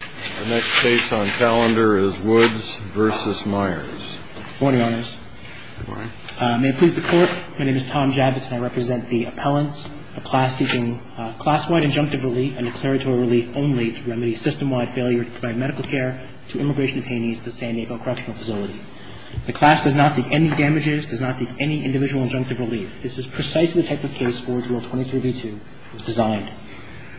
The next case on calendar is Woods v. Myers. Good morning, Your Honors. Good morning. May it please the Court, my name is Tom Javits and I represent the appellants, a class seeking class-wide injunctive relief and declaratory relief only to remedy system-wide failure to provide medical care to immigration attainees at the San Diego Correctional Facility. The class does not seek any damages, does not seek any individual injunctive relief. This is precisely the type of case Forge Rule 23b-2 was designed.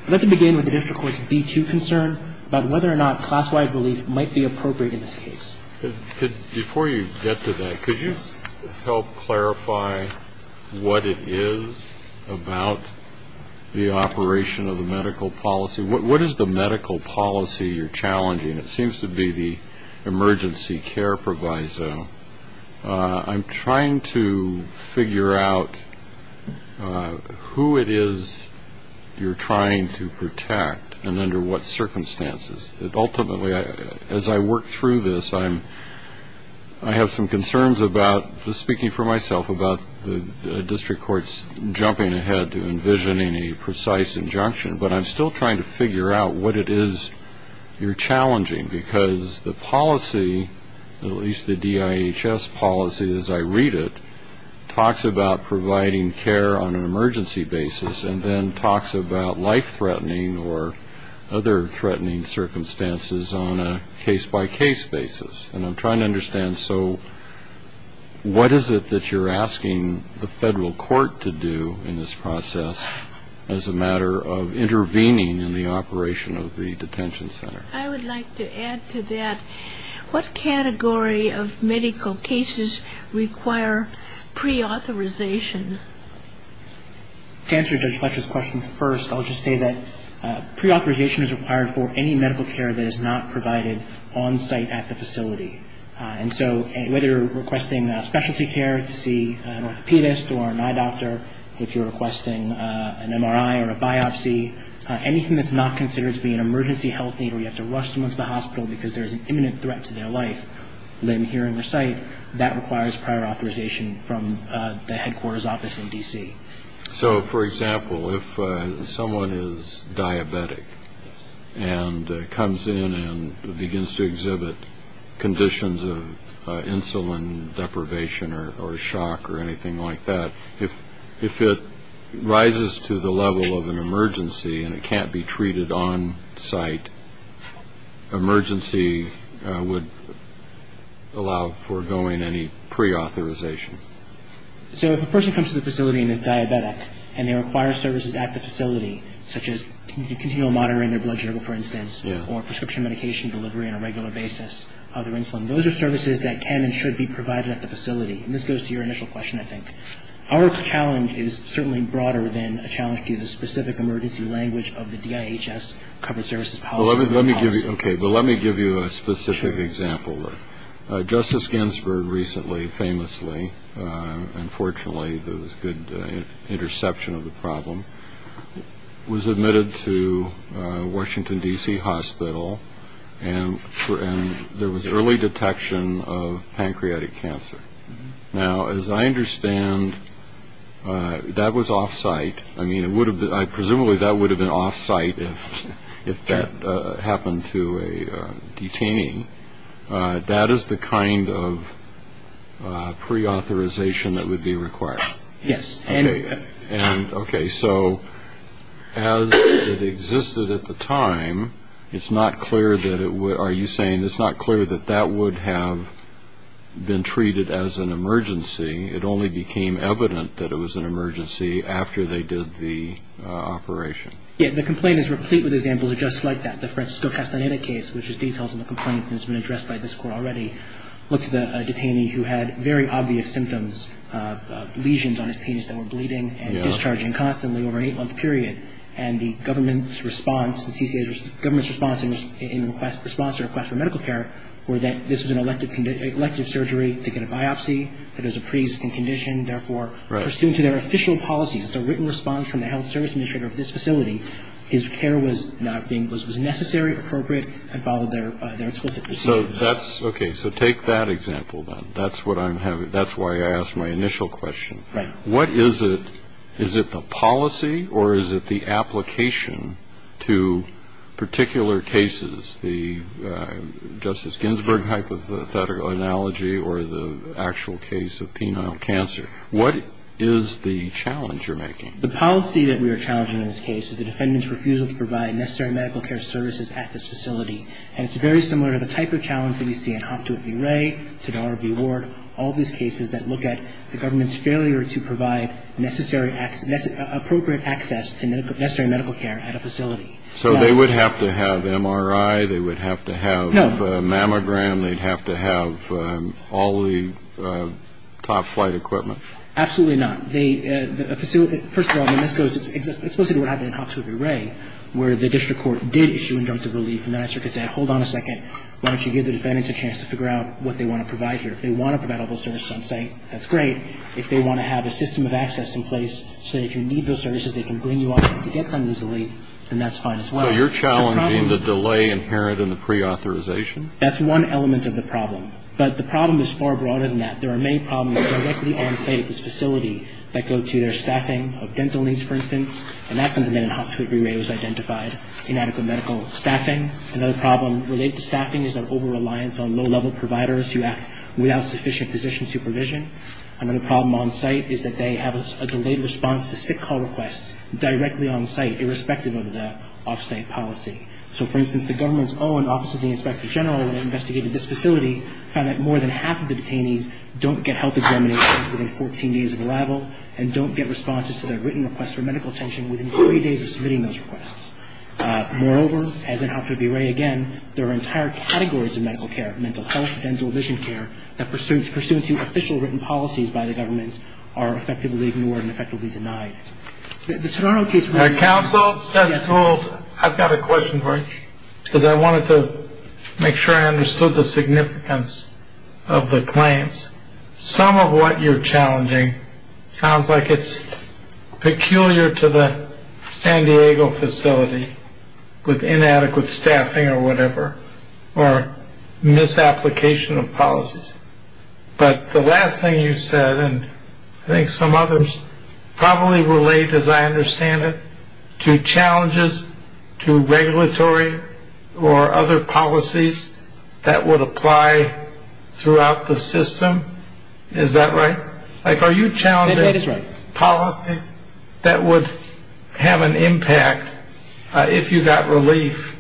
I'd like to begin with the district court's B-2 concern about whether or not class-wide relief might be appropriate in this case. Before you get to that, could you help clarify what it is about the operation of the medical policy? What is the medical policy you're challenging? It seems to be the emergency care proviso. I'm trying to figure out who it is you're trying to protect and under what circumstances. Ultimately, as I work through this, I have some concerns about, just speaking for myself, about the district court's jumping ahead to envisioning a precise injunction, but I'm still trying to figure out what it is you're challenging, because the policy, at least the DIHS policy as I read it, talks about providing care on an emergency basis and then talks about life-threatening or other threatening circumstances on a case-by-case basis. And I'm trying to understand, so what is it that you're asking the federal court to do in this process as a matter of intervening in the operation of the detention center? I would like to add to that, what category of medical cases require preauthorization? To answer Judge Fletcher's question first, I'll just say that preauthorization is required for any medical care that is not provided on-site at the facility. And so whether you're requesting specialty care to see an orthopedist or an eye doctor, if you're requesting an MRI or a biopsy, anything that's not considered to be an emergency health need where you have to rush someone to the hospital because there's an imminent threat to their life, limb, hearing, or sight, that requires prior authorization from the headquarters office in D.C. So, for example, if someone is diabetic and comes in and begins to exhibit conditions of insulin deprivation or shock or anything like that, if it rises to the level of an emergency and it can't be treated on-site, emergency would allow for going any preauthorization. So if a person comes to the facility and is diabetic and they require services at the facility, such as continual monitoring their blood sugar, for instance, or prescription medication delivery on a regular basis of their insulin, those are services that can and should be provided at the facility. And this goes to your initial question, I think. Our challenge is certainly broader than a challenge to the specific emergency language of the DIHS covered services policy. Okay, but let me give you a specific example. Justice Ginsburg recently, famously, and fortunately there was good interception of the problem, was admitted to Washington, D.C. hospital, and there was early detection of pancreatic cancer. Now, as I understand, that was off-site. I mean, presumably that would have been off-site if that happened to a detainee. That is the kind of preauthorization that would be required. Yes. And, okay, so as it existed at the time, it's not clear that it would ñ are you saying it's not clear that that would have been treated as an emergency? It only became evident that it was an emergency after they did the operation. Yes. The complaint is replete with examples just like that. The Francisco Castaneda case, which has details of the complaint and has been addressed by this Court already, looks at a detainee who had very obvious symptoms, lesions on his penis that were bleeding and discharging constantly over an eight-month period. And the government's response, the CCA's government's response in response to a request for medical care, were that this was an elective surgery to get a biopsy, that it was a preexisting condition, therefore, pursuant to their official policies, it's a written response from the health service administrator of this facility, his care was not being ñ was necessary, appropriate, and followed their explicit procedure. So that's ñ okay. So take that example, then. That's what I'm having ñ that's why I asked my initial question. Right. What is it? Is it the policy or is it the application to particular cases, the Justice Ginsburg hypothetical analogy or the actual case of penile cancer? What is the challenge you're making? The policy that we are challenging in this case is the defendant's refusal to provide necessary medical care services at this facility. And it's very similar to the type of challenge that we see in Hoptow at V. Ray, Todar at V. Ward, all of these cases that look at the government's failure to provide necessary ñ appropriate access to necessary medical care at a facility. So they would have to have MRI, they would have to have ñ No. ñ a mammogram, they'd have to have all the top-flight equipment? Absolutely not. The facility ñ first of all, I mean, this goes explicitly to what happened in Hoptow at V. Ray, where the district court did issue inductive relief, and the answer could say, hold on a second, why don't you give the defendants a chance to figure out what they want to provide here. If they want to provide all those services on site, that's great. If they want to have a system of access in place so that if you need those services, they can bring you up to get them easily, then that's fine as well. So you're challenging the delay inherent in the preauthorization? That's one element of the problem. But the problem is far broader than that. There are many problems directly on site at this facility that go to their staffing of dental needs, for instance. And that's something that in Hoptow at V. Ray was identified, inadequate medical staffing. Another problem related to staffing is their over-reliance on low-level providers who act without sufficient physician supervision. Another problem on site is that they have a delayed response to sick call requests directly on site, irrespective of the off-site policy. So, for instance, the government's own Office of the Inspector General, when they investigated this facility, found that more than half of the detainees don't get health examination within 14 days of arrival and don't get responses to their written requests for medical attention within three days of submitting those requests. Moreover, as in Hoptow at V. Ray, again, there are entire categories of medical care, mental health, dental vision care, that pursuant to official written policies by the government are effectively ignored and effectively denied. My counsel, I've got a question for you, because I wanted to make sure I understood the significance of the claims. Some of what you're challenging sounds like it's peculiar to the San Diego facility with inadequate staffing or whatever, or misapplication of policies. But the last thing you said, and I think some others probably relate, as I understand it, to challenges to regulatory or other policies that would apply throughout the system. Is that right? Are you challenging policies that would have an impact if you got relief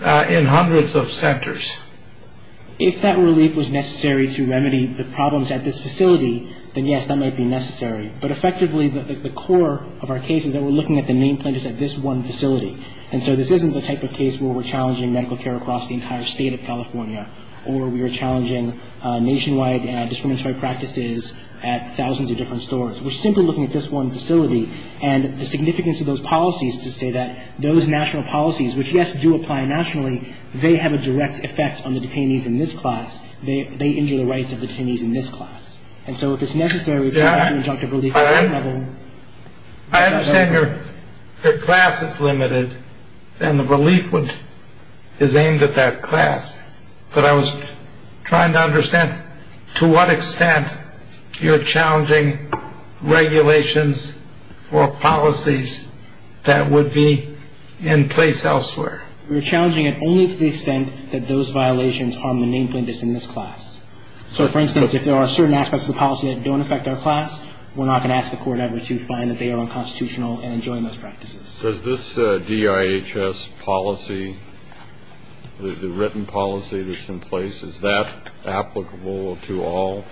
in hundreds of centers? If that relief was necessary to remedy the problems at this facility, then yes, that might be necessary. But effectively, the core of our case is that we're looking at the main plaintiffs at this one facility. And so this isn't the type of case where we're challenging medical care across the entire state of California or we are challenging nationwide discriminatory practices at thousands of different stores. We're simply looking at this one facility and the significance of those policies to say that those national policies, which, yes, do apply nationally, they have a direct effect on the detainees in this class. They injure the rights of the detainees in this class. And so if it's necessary to have conjunctive relief at that level. I understand your class is limited and the relief is aimed at that class. But I was trying to understand to what extent you're challenging regulations or policies that would be in place elsewhere. We're challenging it only to the extent that those violations harm the main plaintiffs in this class. So, for instance, if there are certain aspects of the policy that don't affect our class, we're not going to ask the court ever to find that they are unconstitutional and enjoin those practices. Does this DIHS policy, the written policy that's in place, is that applicable to all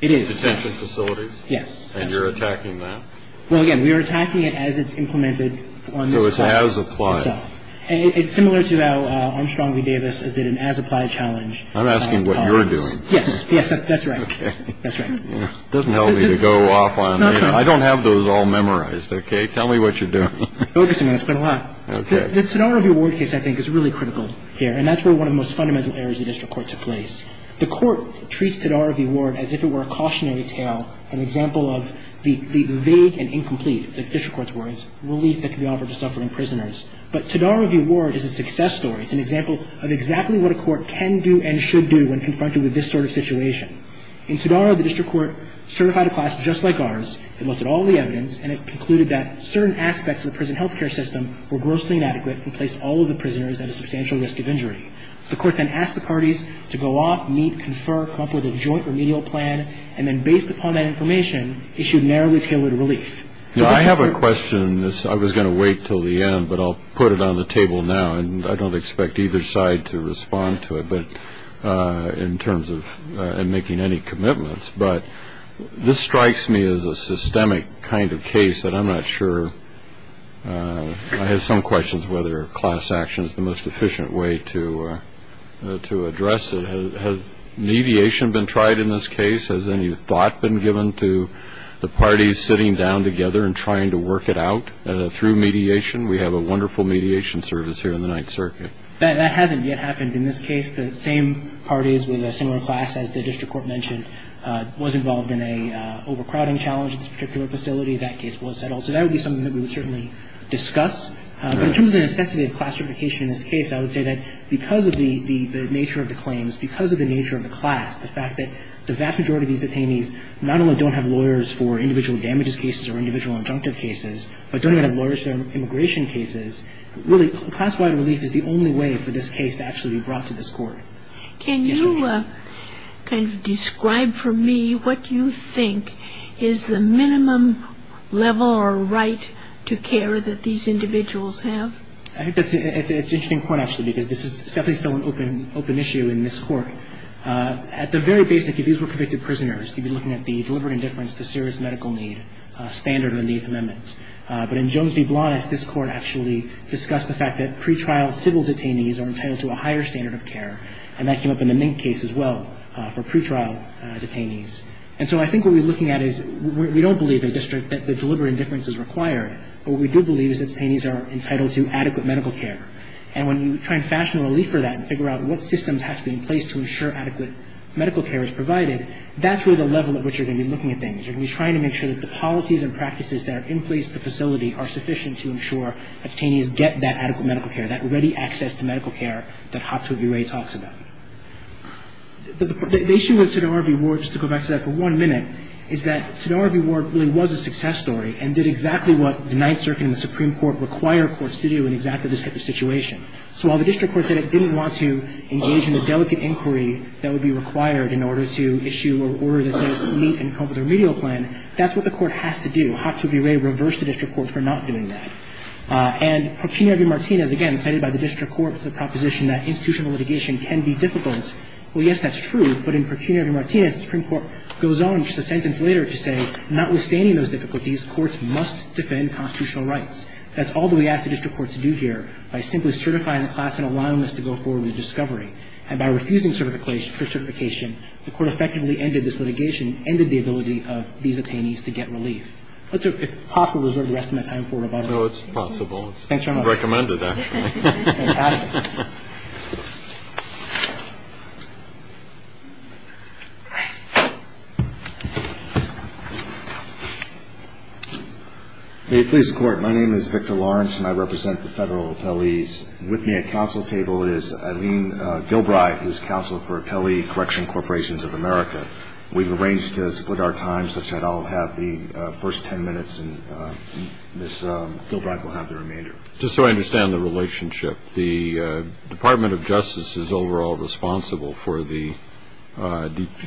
detention facilities? It is. Yes. And you're attacking that? Well, again, we are attacking it as it's implemented on this class. So it's as applied. It's similar to how Armstrong v. Davis did an as applied challenge. I'm asking what you're doing. Yes. Yes, that's right. Okay. That's right. It doesn't help me to go off on. I don't have those all memorized. Okay. Tell me what you're doing. It's been a while. Okay. The Todaro v. Ward case I think is really critical here. And that's where one of the most fundamental errors of the district court took place. The court treats Todaro v. Ward as if it were a cautionary tale, an example of the vague and incomplete, the district court's words, relief that can be offered to suffering prisoners. But Todaro v. Ward is a success story. It's an example of exactly what a court can do and should do when confronted with this sort of situation. In Todaro, the district court certified a class just like ours. It looked at all the evidence. And it concluded that certain aspects of the prison health care system were grossly inadequate and placed all of the prisoners at a substantial risk of injury. The court then asked the parties to go off, meet, confer, come up with a joint remedial plan. And then based upon that information, issued narrowly tailored relief. Now, I have a question. I was going to wait until the end, but I'll put it on the table now. And I don't expect either side to respond to it in terms of making any commitments. But this strikes me as a systemic kind of case that I'm not sure. I have some questions whether class action is the most efficient way to address it. Has mediation been tried in this case? Has any thought been given to the parties sitting down together and trying to work it out through mediation? We have a wonderful mediation service here in the Ninth Circuit. That hasn't yet happened in this case. The same parties with a similar class, as the district court mentioned, was involved in an overcrowding challenge at this particular facility. That case was settled. So that would be something that we would certainly discuss. But in terms of the necessity of class certification in this case, I would say that because of the nature of the claims, because of the nature of the class, the fact that class wide relief is the only way for this case to actually be brought to this court. Can you kind of describe for me what you think is the minimum level or right to care that these individuals have? I think that's an interesting point, actually, because this is definitely still an open issue in this court. At the very basic, if these were convicted prisoners, you'd be looking at the deliberate indifference to serious medical need standard in the Eighth Amendment. But in Jones v. Blantes, this court actually discussed the fact that pretrial civil detainees are entitled to a higher standard of care. And that came up in the Ninth case as well for pretrial detainees. And so I think what we're looking at is we don't believe in the district that the deliberate indifference is required. What we do believe is that detainees are entitled to adequate medical care. And when you try and fashion a relief for that and figure out what systems have to be in place to ensure adequate medical care is provided, that's where the level at which you're going to be looking at things. You're going to be trying to make sure that the policies and practices that are in place at the facility are sufficient to ensure that detainees get that adequate medical care, that ready access to medical care that Hopkins v. Ray talks about. The issue with Todaro v. Ward, just to go back to that for one minute, is that Todaro v. Ward really was a success story and did exactly what the Ninth Circuit and the Supreme Court require courts to do in exactly this type of situation. So while the district court said it didn't want to engage in a delicate inquiry that would be required in order to issue an order that says to meet and come up with a remedial plan, that's what the court has to do. Hopkins v. Ray reversed the district court for not doing that. And Pecunio v. Martinez, again, cited by the district court as a proposition that institutional litigation can be difficult. Well, yes, that's true. But in Pecunio v. Martinez, the Supreme Court goes on just a sentence later to say notwithstanding those difficulties, courts must defend constitutional rights. That's all that we ask the district court to do here by simply certifying the class and allowing us to go forward with a discovery. And by refusing certification, the court effectively ended this litigation, ended the ability of these attainees to get relief. If possible, we'll reserve the rest of my time for rebuttal. No, it's possible. Thanks very much. I recommend it, actually. May it please the Court. My name is Victor Lawrence, and I represent the Federal appellees. With me at counsel table is Eileen Gilbride, who is counsel for Appellee Correction Corporations of America. We've arranged to split our time such that I'll have the first ten minutes and Ms. Gilbride will have the remainder. Just so I understand the relationship, the Department of Justice is overall responsible for the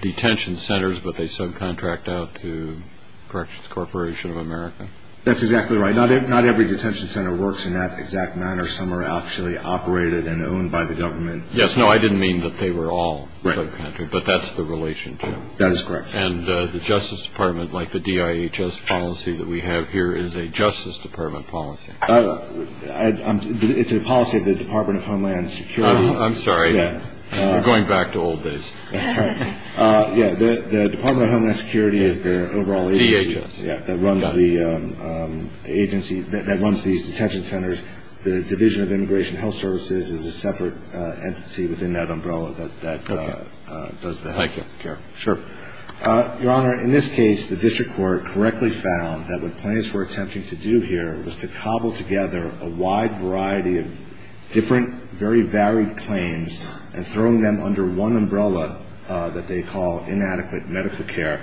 detention centers, but they subcontract out to Corrections Corporation of America? That's exactly right. Not every detention center works in that exact manner. Some are actually operated and owned by the government. Yes. No, I didn't mean that they were all subcontracted, but that's the relationship. That is correct. And the Justice Department, like the DIHS policy that we have here, is a Justice Department policy. It's a policy of the Department of Homeland Security. I'm sorry. We're going back to old days. That's right. Yeah, the Department of Homeland Security is the overall agency. DHS. Yeah, that runs the agency, that runs these detention centers. The Division of Immigration Health Services is a separate entity within that umbrella that does that. Okay. Thank you. Sure. Your Honor, in this case, the district court correctly found that what plaintiffs were attempting to do here was to cobble together a wide variety of different, very varied claims and throwing them under one umbrella that they call inadequate medical care.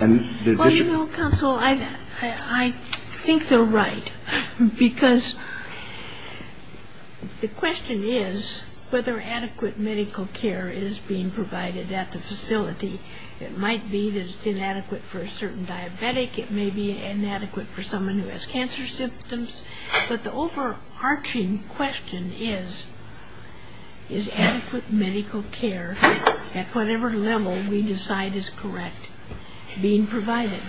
Well, you know, counsel, I think they're right. Because the question is whether adequate medical care is being provided at the facility. It might be that it's inadequate for a certain diabetic. It may be inadequate for someone who has cancer symptoms. But the overarching question is, is adequate medical care, at whatever level we decide is correct, being provided?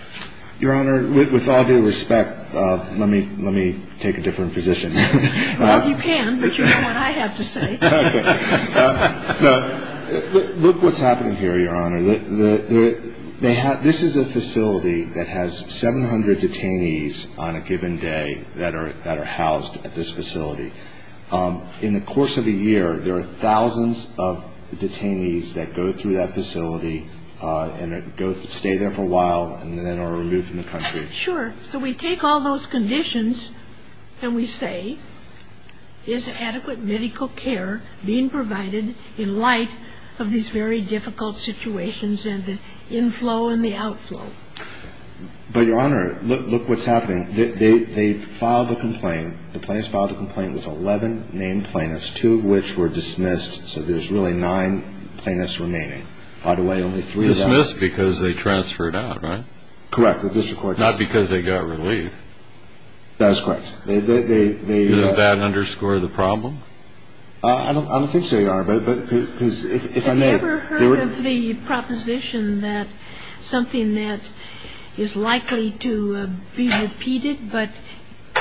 Your Honor, with all due respect, let me take a different position. Well, you can, but you know what I have to say. Okay. Look what's happening here, Your Honor. This is a facility that has 700 detainees on a given day that are housed at this facility. In the course of a year, there are thousands of detainees that go through that facility and stay there for a while and then are removed from the country. Sure. So we take all those conditions and we say, is adequate medical care being provided in light of these very difficult situations and the inflow and the outflow? But, Your Honor, look what's happening. They filed a complaint. The plaintiffs filed a complaint with 11 named plaintiffs, two of which were dismissed. So there's really nine plaintiffs remaining. By the way, only three of them. Dismissed because they transferred out, right? Correct. The district court dismissed them. Not because they got relief. That is correct. Does that underscore the problem? I don't think so, Your Honor. Have you ever heard of the proposition that something that is likely to be repeated but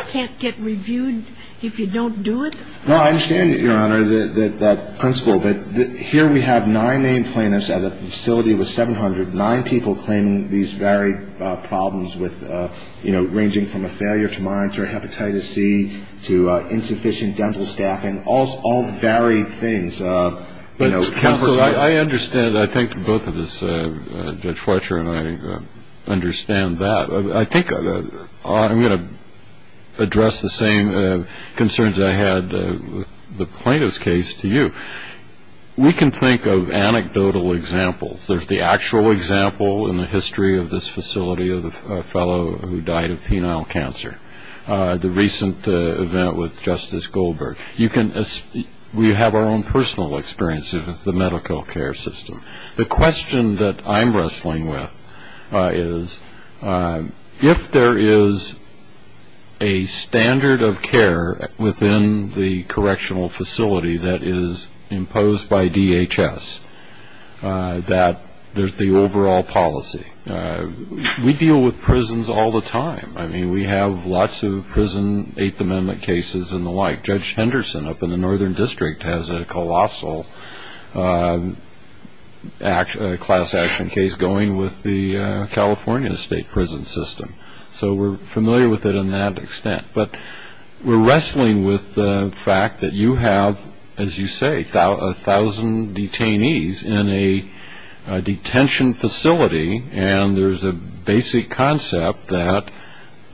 can't get reviewed if you don't do it? No, I understand, Your Honor, that principle. But here we have nine named plaintiffs at a facility with 700, nine people claiming these very problems ranging from a failure to monitor hepatitis C to insufficient dental staffing, all varied things. Counsel, I understand. I think both of us, Judge Fletcher and I, understand that. I think I'm going to address the same concerns I had with the plaintiff's case to you. We can think of anecdotal examples. There's the actual example in the history of this facility of a fellow who died of penile cancer, the recent event with Justice Goldberg. We have our own personal experiences with the medical care system. The question that I'm wrestling with is, if there is a standard of care within the correctional facility that is imposed by DHS that there's the overall policy. We deal with prisons all the time. I mean, we have lots of prison Eighth Amendment cases and the like. Judge Henderson up in the Northern District has a colossal class action case going with the California state prison system. So we're familiar with it in that extent. But we're wrestling with the fact that you have, as you say, a thousand detainees in a detention facility, and there's a basic concept that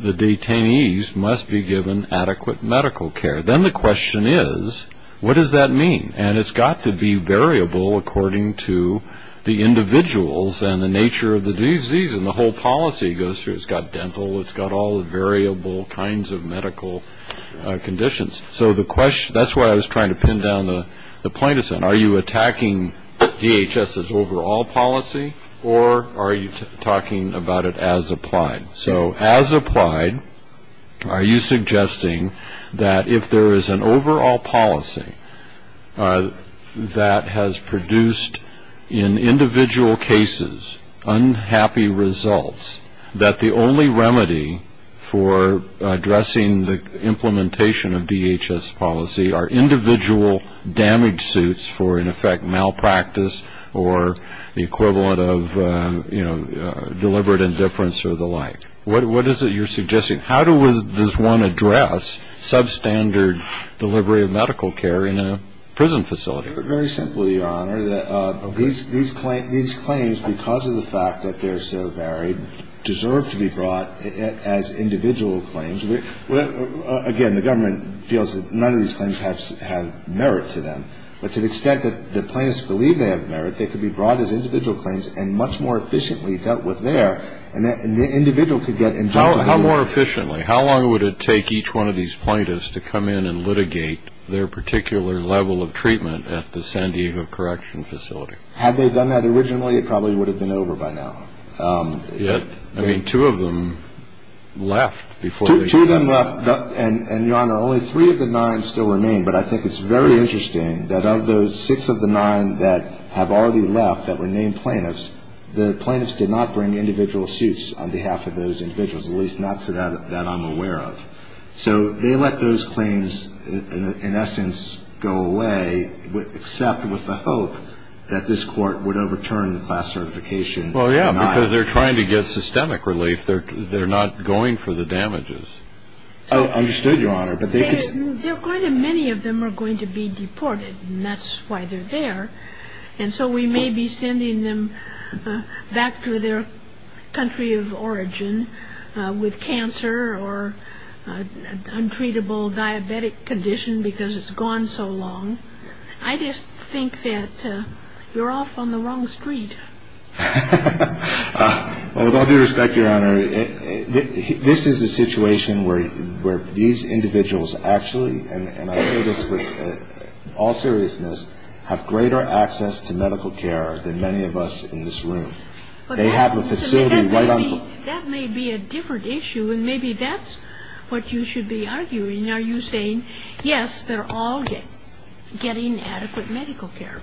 the detainees must be given adequate medical care. Then the question is, what does that mean? And it's got to be variable according to the individuals and the nature of the disease, and the whole policy goes through. It's got dental. It's got all the variable kinds of medical conditions. So that's why I was trying to pin down the plaintiff's end. Are you attacking DHS's overall policy, or are you talking about it as applied? So as applied, are you suggesting that if there is an overall policy that has produced, in individual cases, unhappy results, that the only remedy for addressing the implementation of DHS policy are individual damage suits for, in effect, malpractice or the equivalent of deliberate indifference or the like? What is it you're suggesting? How does one address substandard delivery of medical care in a prison facility? Very simply, Your Honor. These claims, because of the fact that they're so varied, deserve to be brought as individual claims. Again, the government feels that none of these claims have merit to them, but to the extent that the plaintiffs believe they have merit, they could be brought as individual claims and much more efficiently dealt with there, and the individual could get injuncted. How more efficiently? How long would it take each one of these plaintiffs to come in and litigate their particular level of treatment at the San Diego Correction Facility? Had they done that originally, it probably would have been over by now. I mean, two of them left before they came in. Two of them left, and, Your Honor, only three of the nine still remain, but I think it's very interesting that of those six of the nine that have already left that were named plaintiffs, the plaintiffs did not bring individual suits on behalf of those individuals, at least not to that I'm aware of. So they let those claims, in essence, go away, except with the hope that this Court would overturn the class certification. Well, yeah, because they're trying to get systemic relief. They're not going for the damages. Understood, Your Honor. But they could... Quite many of them are going to be deported, and that's why they're there. And so we may be sending them back to their country of origin with cancer or untreatable diabetic condition because it's gone so long. I just think that you're off on the wrong street. With all due respect, Your Honor, this is a situation where these individuals actually, and I say this with all seriousness, have greater access to medical care than many of us in this room. They have a facility right on... That may be a different issue, and maybe that's what you should be arguing. Are you saying, yes, they're all getting adequate medical care?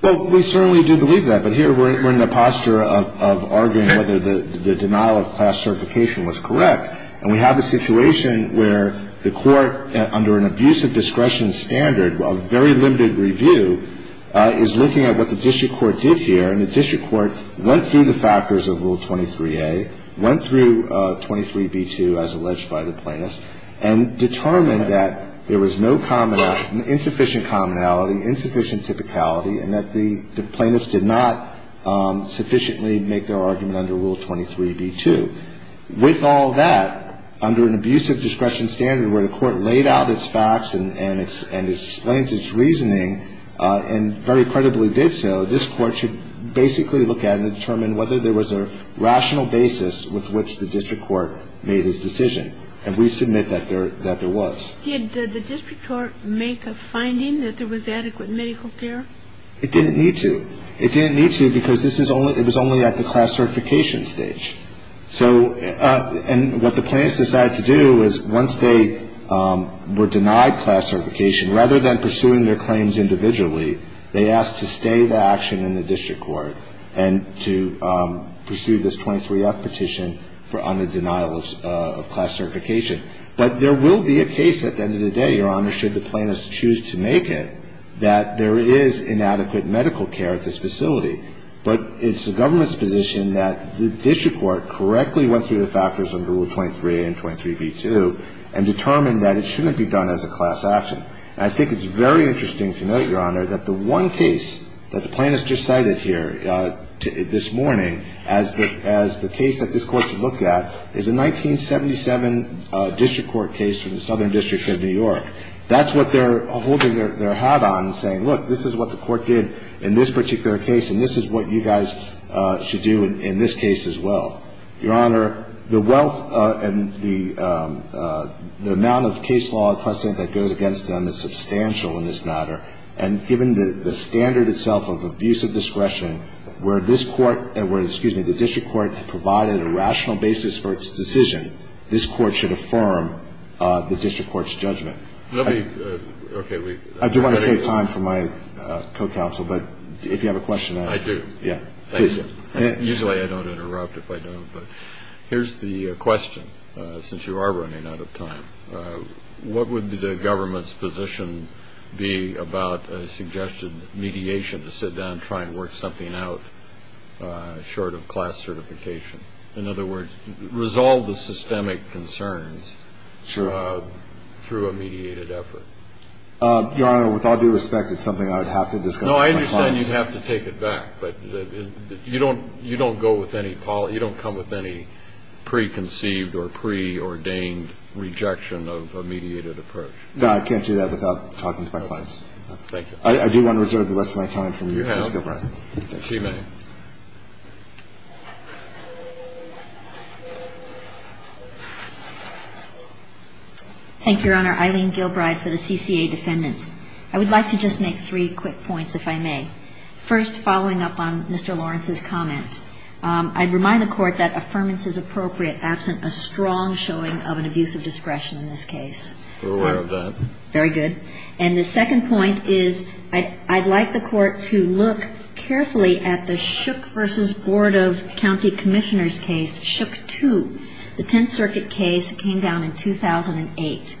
Well, we certainly do believe that. But here we're in the posture of arguing whether the denial of class certification was correct. And we have a situation where the Court, under an abuse of discretion standard, a very limited review, is looking at what the district court did here. And the district court went through the factors of Rule 23a, went through 23b-2, as alleged by the plaintiffs, and determined that there was no insufficient commonality, insufficient typicality, and that the plaintiffs did not sufficiently make their argument under Rule 23b-2. With all that, under an abuse of discretion standard, where the court laid out its facts and explained its reasoning and very credibly did so, this court should basically look at it and determine whether there was a rational basis with which the district court made its decision. And we submit that there was. Did the district court make a finding that there was adequate medical care? It didn't need to. It didn't need to because it was only at the class certification stage. And what the plaintiffs decided to do was once they were denied class certification, rather than pursuing their claims individually, they asked to stay the action in the district court and to pursue this 23F petition on the denial of class certification. But there will be a case at the end of the day, Your Honor, should the plaintiffs choose to make it, that there is inadequate medical care at this facility. But it's the government's position that the district court correctly went through the factors under Rule 23a and 23b-2 and determined that it shouldn't be done as a class action. I think it's very interesting to note, Your Honor, that the one case that the plaintiffs just cited here this morning as the case that this court should look at is a 1977 district court case from the Southern District of New York. That's what they're holding their hat on and saying, look, this is what the court did in this particular case and this is what you guys should do in this case as well. Your Honor, the wealth and the amount of case law and precedent that goes against them is substantial in this matter. And given the standard itself of abuse of discretion where this court and where, excuse me, the district court provided a rational basis for its decision, this court should affirm the district court's judgment. I do want to save time for my co-counsel, but if you have a question. I do. Usually I don't interrupt if I don't. But here's the question, since you are running out of time. What would the government's position be about a suggested mediation to sit down and try and work something out short of class certification? In other words, resolve the systemic concerns through a mediated effort. Your Honor, with all due respect, it's something I would have to discuss with my clients. Well, then you have to take it back. But you don't go with any policy. You don't come with any preconceived or preordained rejection of a mediated approach. No, I can't do that without talking to my clients. Thank you. I do want to reserve the rest of my time from you, Justice Gilbride. You have. She may. Thank you, Your Honor. Eileen Gilbride for the CCA defendants. I would like to just make three quick points, if I may. First, following up on Mr. Lawrence's comment, I'd remind the Court that affirmance is appropriate absent a strong showing of an abuse of discretion in this case. We're aware of that. Very good. And the second point is I'd like the Court to look carefully at the Shook v. Board of County Commissioners case, Shook 2. The Tenth Circuit case came down in 2008.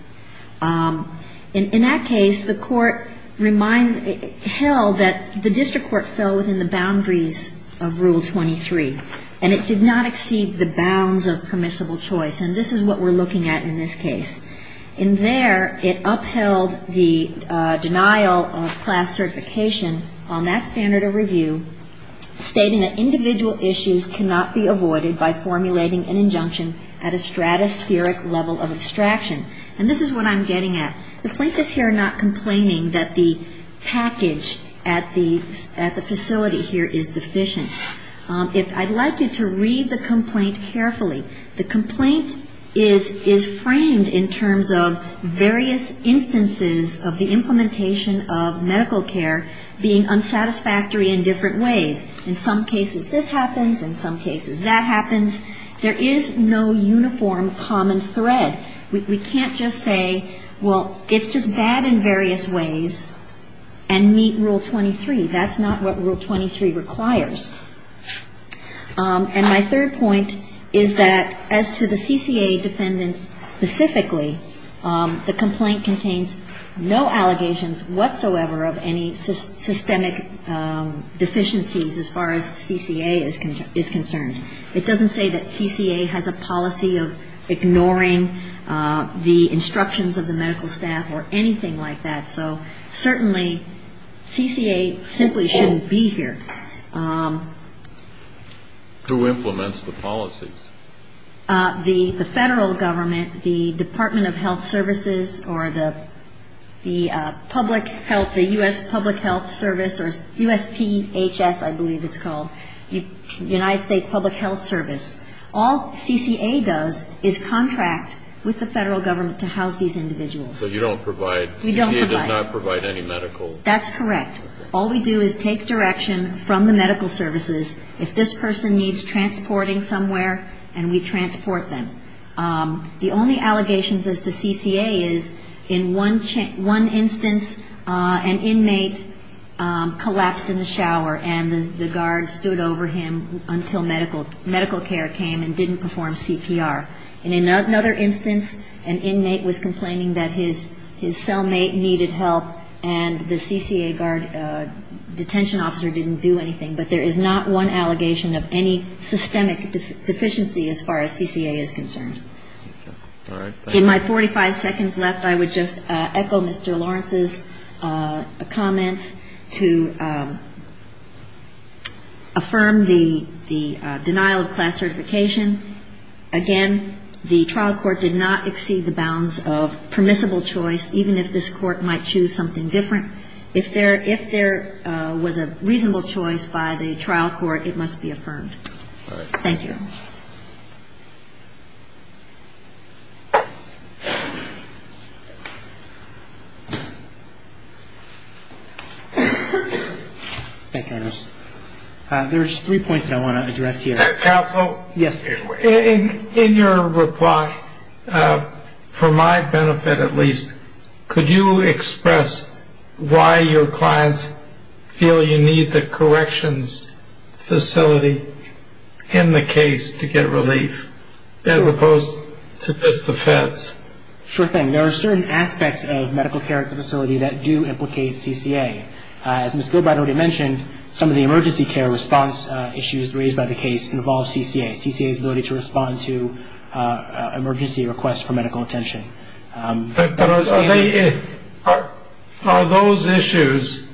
In that case, the Court held that the district court fell within the boundaries of Rule 23, and it did not exceed the bounds of permissible choice. And this is what we're looking at in this case. In there, it upheld the denial of class certification on that standard of review, stating that individual issues cannot be avoided by formulating an injunction at a stratospheric level of abstraction. And this is what I'm getting at. The plaintiffs here are not complaining that the package at the facility here is deficient. I'd like you to read the complaint carefully. The complaint is framed in terms of various instances of the implementation of medical care being unsatisfactory in different ways. In some cases, this happens. In some cases, that happens. There is no uniform common thread. We can't just say, well, it's just bad in various ways and meet Rule 23. That's not what Rule 23 requires. And my third point is that as to the CCA defendants specifically, the complaint contains no allegations whatsoever of any systemic deficiencies as far as CCA is concerned. It doesn't say that CCA has a policy of ignoring the instructions of the medical staff or anything like that. So certainly, CCA simply shouldn't be here. Who implements the policies? The federal government, the Department of Health Services, or the public health, the U.S. Public Health Service, or USPHS, I believe it's called, United States Public Health Service. All CCA does is contract with the federal government to house these individuals. But you don't provide? We don't provide. CCA does not provide any medical? That's correct. All we do is take direction from the medical services. If this person needs transporting somewhere, then we transport them. The only allegations as to CCA is in one instance, an inmate collapsed in the shower and the guard stood over him until medical care came and didn't perform CPR. In another instance, an inmate was complaining that his cellmate needed help and the CCA guard detention officer didn't do anything. But there is not one allegation of any systemic deficiency as far as CCA is concerned. In my 45 seconds left, I would just echo Mr. Lawrence's comments to affirm the denial of class certification. Again, the trial court did not exceed the bounds of permissible choice, even if this court might choose something different. If there was a reasonable choice by the trial court, it must be affirmed. Thank you. There's three points that I want to address here. Counsel, in your reply, for my benefit at least, could you express why your clients feel you need the corrections facility in the case to get relief, as opposed to just the feds? Sure thing. There are certain aspects of medical care at the facility that do implicate CCA. As Ms. Gilbride already mentioned, some of the emergency care response issues raised by the case involve CCA. CCA's ability to respond to emergency requests for medical attention. But are those issues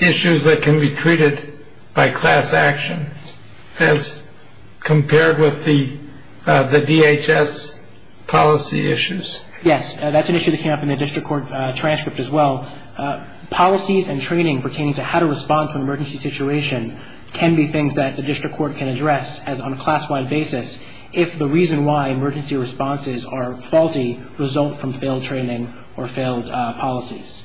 issues that can be treated by class action as compared with the DHS policy issues? Yes. That's an issue that came up in the district court transcript as well. Policies and training pertaining to how to respond to an emergency situation can be things that the district court can address as on a class-wide basis if the reason why emergency responses are faulty result from failed training or failed policies.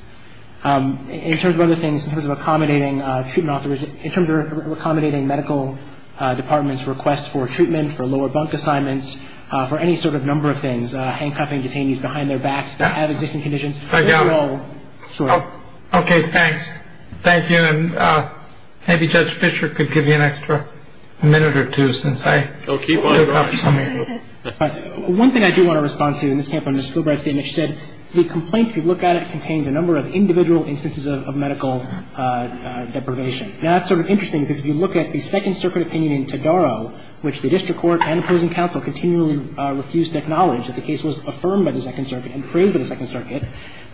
In terms of other things, in terms of accommodating treatment offers, in terms of accommodating medical departments' requests for treatment, for lower bunk assignments, for any sort of number of things, handcuffing detainees behind their backs that have existing conditions. Thank you all. Okay. Thanks. Thank you. And maybe Judge Fischer could give you an extra minute or two since I... He'll keep on going. One thing I do want to respond to in this camp on Ms. Gilbride's statement, she said the complaint, if you look at it, contains a number of individual instances of medical deprivation. Now, that's sort of interesting because if you look at the Second Circuit opinion in Todaro, which the district court and opposing counsel continually refused to acknowledge that the case was affirmed by the Second Circuit and praised by the Second Circuit,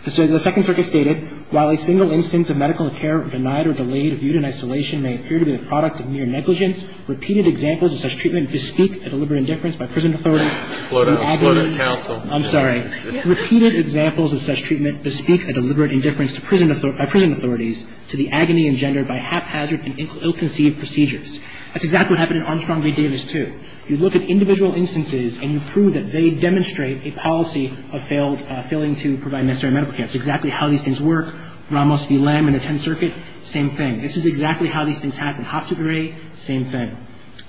the Second Circuit stated, while a single instance of medical care denied or delayed or viewed in isolation may appear to be the product of mere negligence, repeated examples of such treatment bespeak a deliberate indifference by prison authorities... Flood us. Flood us, counsel. I'm sorry. Repeated examples of such treatment bespeak a deliberate indifference by prison authorities to the agony engendered by haphazard and ill-conceived procedures. That's exactly what happened in Armstrong v. Davis, too. If you look at individual instances and you prove that they demonstrate a policy of failing to provide necessary medical care, it's exactly how these things work. Ramos v. Lamb in the Tenth Circuit, same thing. This is exactly how these things happen. Hopps v. Gray, same thing.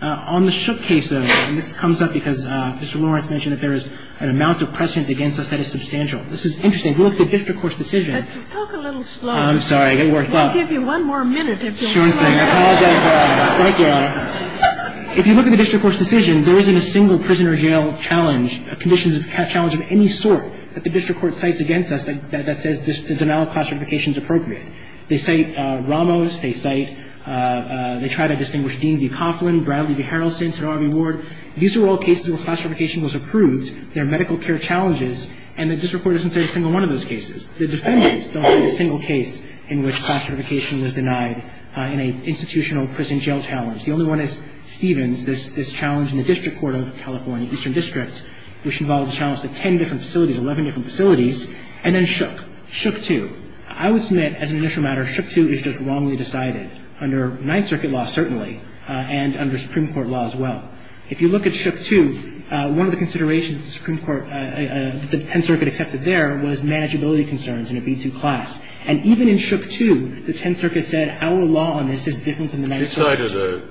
On the Shook case, though, and this comes up because Mr. Lawrence mentioned that there is an amount of precedent against us that is substantial. This is interesting. If you look at the district court's decision... But you talk a little slow. I'm sorry. I get worked up. We'll give you one more minute if you'll slow down. Sure thing. I apologize, Your Honor. Thank you, Your Honor. If you look at the district court's decision, there isn't a single prison or jail challenge or conditions of challenge of any sort that the district court cites against us that says this denial of class certification is appropriate. They cite Ramos. They cite they tried to distinguish Dean v. Coughlin, Bradley v. Harrelson, Sotomayor v. Ward. These are all cases where class certification was approved. There are medical care challenges, and the district court doesn't cite a single one of those cases. The defendants don't cite a single case in which class certification was denied in an institutional prison jail challenge. The only one is Stevens, this challenge in the district court of California, Eastern District, which involved a challenge to ten different facilities, eleven different facilities, and then Shook. Shook two. I would submit, as an initial matter, Shook two is just wrongly decided under Ninth Circuit law, certainly, and under Supreme Court law as well. If you look at Shook two, one of the considerations that the Supreme Court, that the Tenth Circuit accepted there was manageability concerns in a B-2 class. And even in Shook two, the Tenth Circuit said our law on this is different from the Ninth Circuit.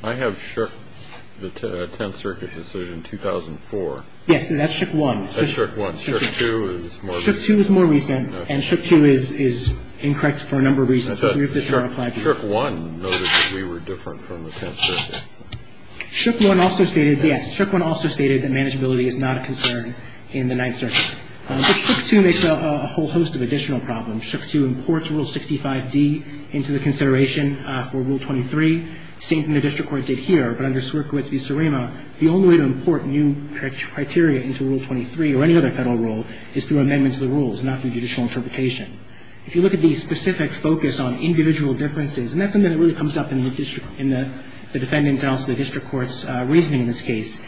I have Shook, the Tenth Circuit has said in 2004. Yes, and that's Shook one. That's Shook one. Shook two is more recent. Shook two is more recent, and Shook two is incorrect for a number of reasons. Shook one noted that we were different from the Tenth Circuit. Shook one also stated, yes, Shook one also stated that manageability is not a concern in the Ninth Circuit. But Shook two makes a whole host of additional problems. Shook two imports Rule 65d into the consideration for Rule 23, same thing the district court did here. But under Swerkowitz v. Surima, the only way to import new criteria into Rule 23 or any other Federal rule is through amendments to the rules, not through judicial interpretation. If you look at the specific focus on individual differences, and that's something that really comes up in the district, in the defendant's and also the district court's reasoning in this case.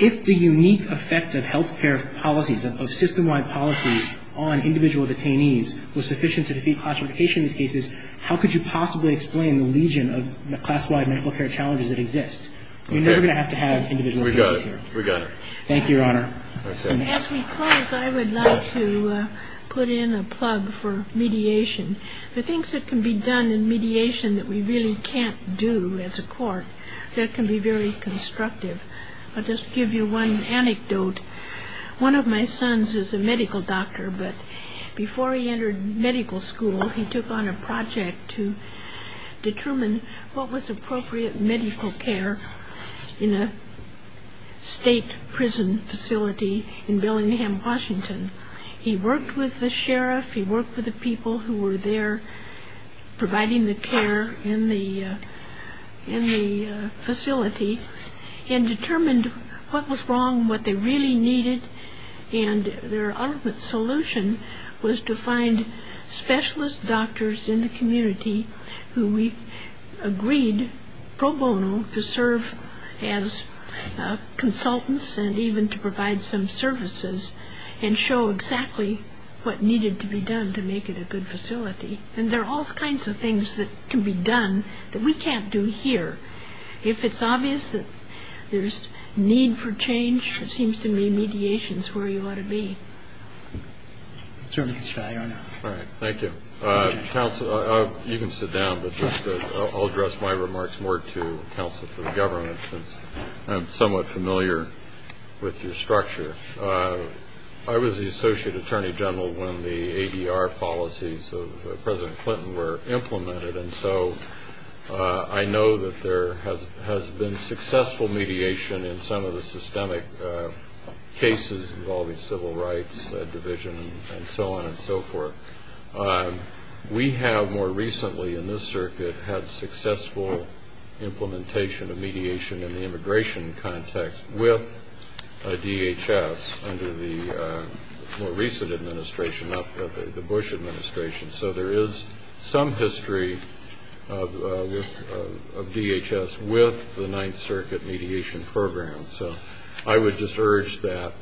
If the unique effect of health care policies, of system-wide policies on individual detainees was sufficient to defeat classification in these cases, how could you possibly explain the legion of class-wide medical care challenges that exist? We're never going to have to have individual cases here. We got it. We got it. Thank you, Your Honor. As we close, I would like to put in a plug for mediation. The things that can be done in mediation that we really can't do as a court that can be very constructive. I'll just give you one anecdote. One of my sons is a medical doctor, but before he entered medical school, he took on a project to determine what was appropriate medical care in a state prison facility in Billingham, Washington. He worked with the sheriff. He worked with the people who were there providing the care in the facility. And determined what was wrong, what they really needed. And their ultimate solution was to find specialist doctors in the community who agreed pro bono to serve as consultants and even to provide some services and show exactly what needed to be done to make it a good facility. And there are all kinds of things that can be done that we can't do here. If it's obvious that there's need for change, it seems to me mediation is where you ought to be. All right. Thank you. Counsel, you can sit down, but I'll address my remarks more to counsel for the government since I'm somewhat familiar with your structure. I was the associate attorney general when the ADR policies of President Clinton were implemented. And so I know that there has been successful mediation in some of the systemic cases involving civil rights, division, and so on and so forth. We have more recently in this circuit had successful implementation of mediation in the immigration context with DHS under the more recent administration, not the Bush administration. So there is some history of DHS with the Ninth Circuit mediation program. So I would just urge that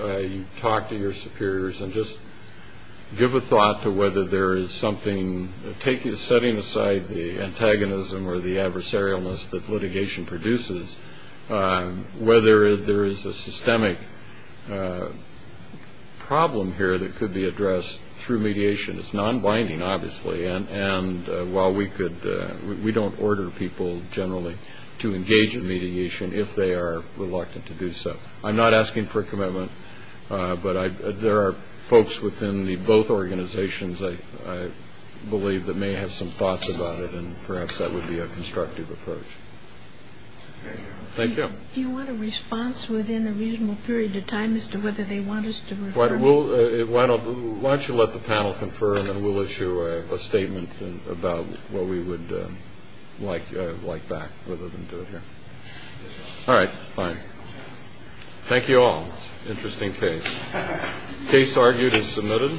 you talk to your superiors and just give a thought to whether there is something setting aside the antagonism or the adversarialness that systemic problem here that could be addressed through mediation. It's non-binding, obviously. And while we don't order people generally to engage in mediation if they are reluctant to do so. I'm not asking for a commitment, but there are folks within both organizations, I believe, that may have some thoughts about it, and perhaps that would be a constructive approach. Thank you. Do you want a response within a reasonable period of time as to whether they want us to refer? Why don't you let the panel confirm and we'll issue a statement about what we would like back rather than do it here. All right. Fine. Thank you all. Interesting case. Case argued and submitted.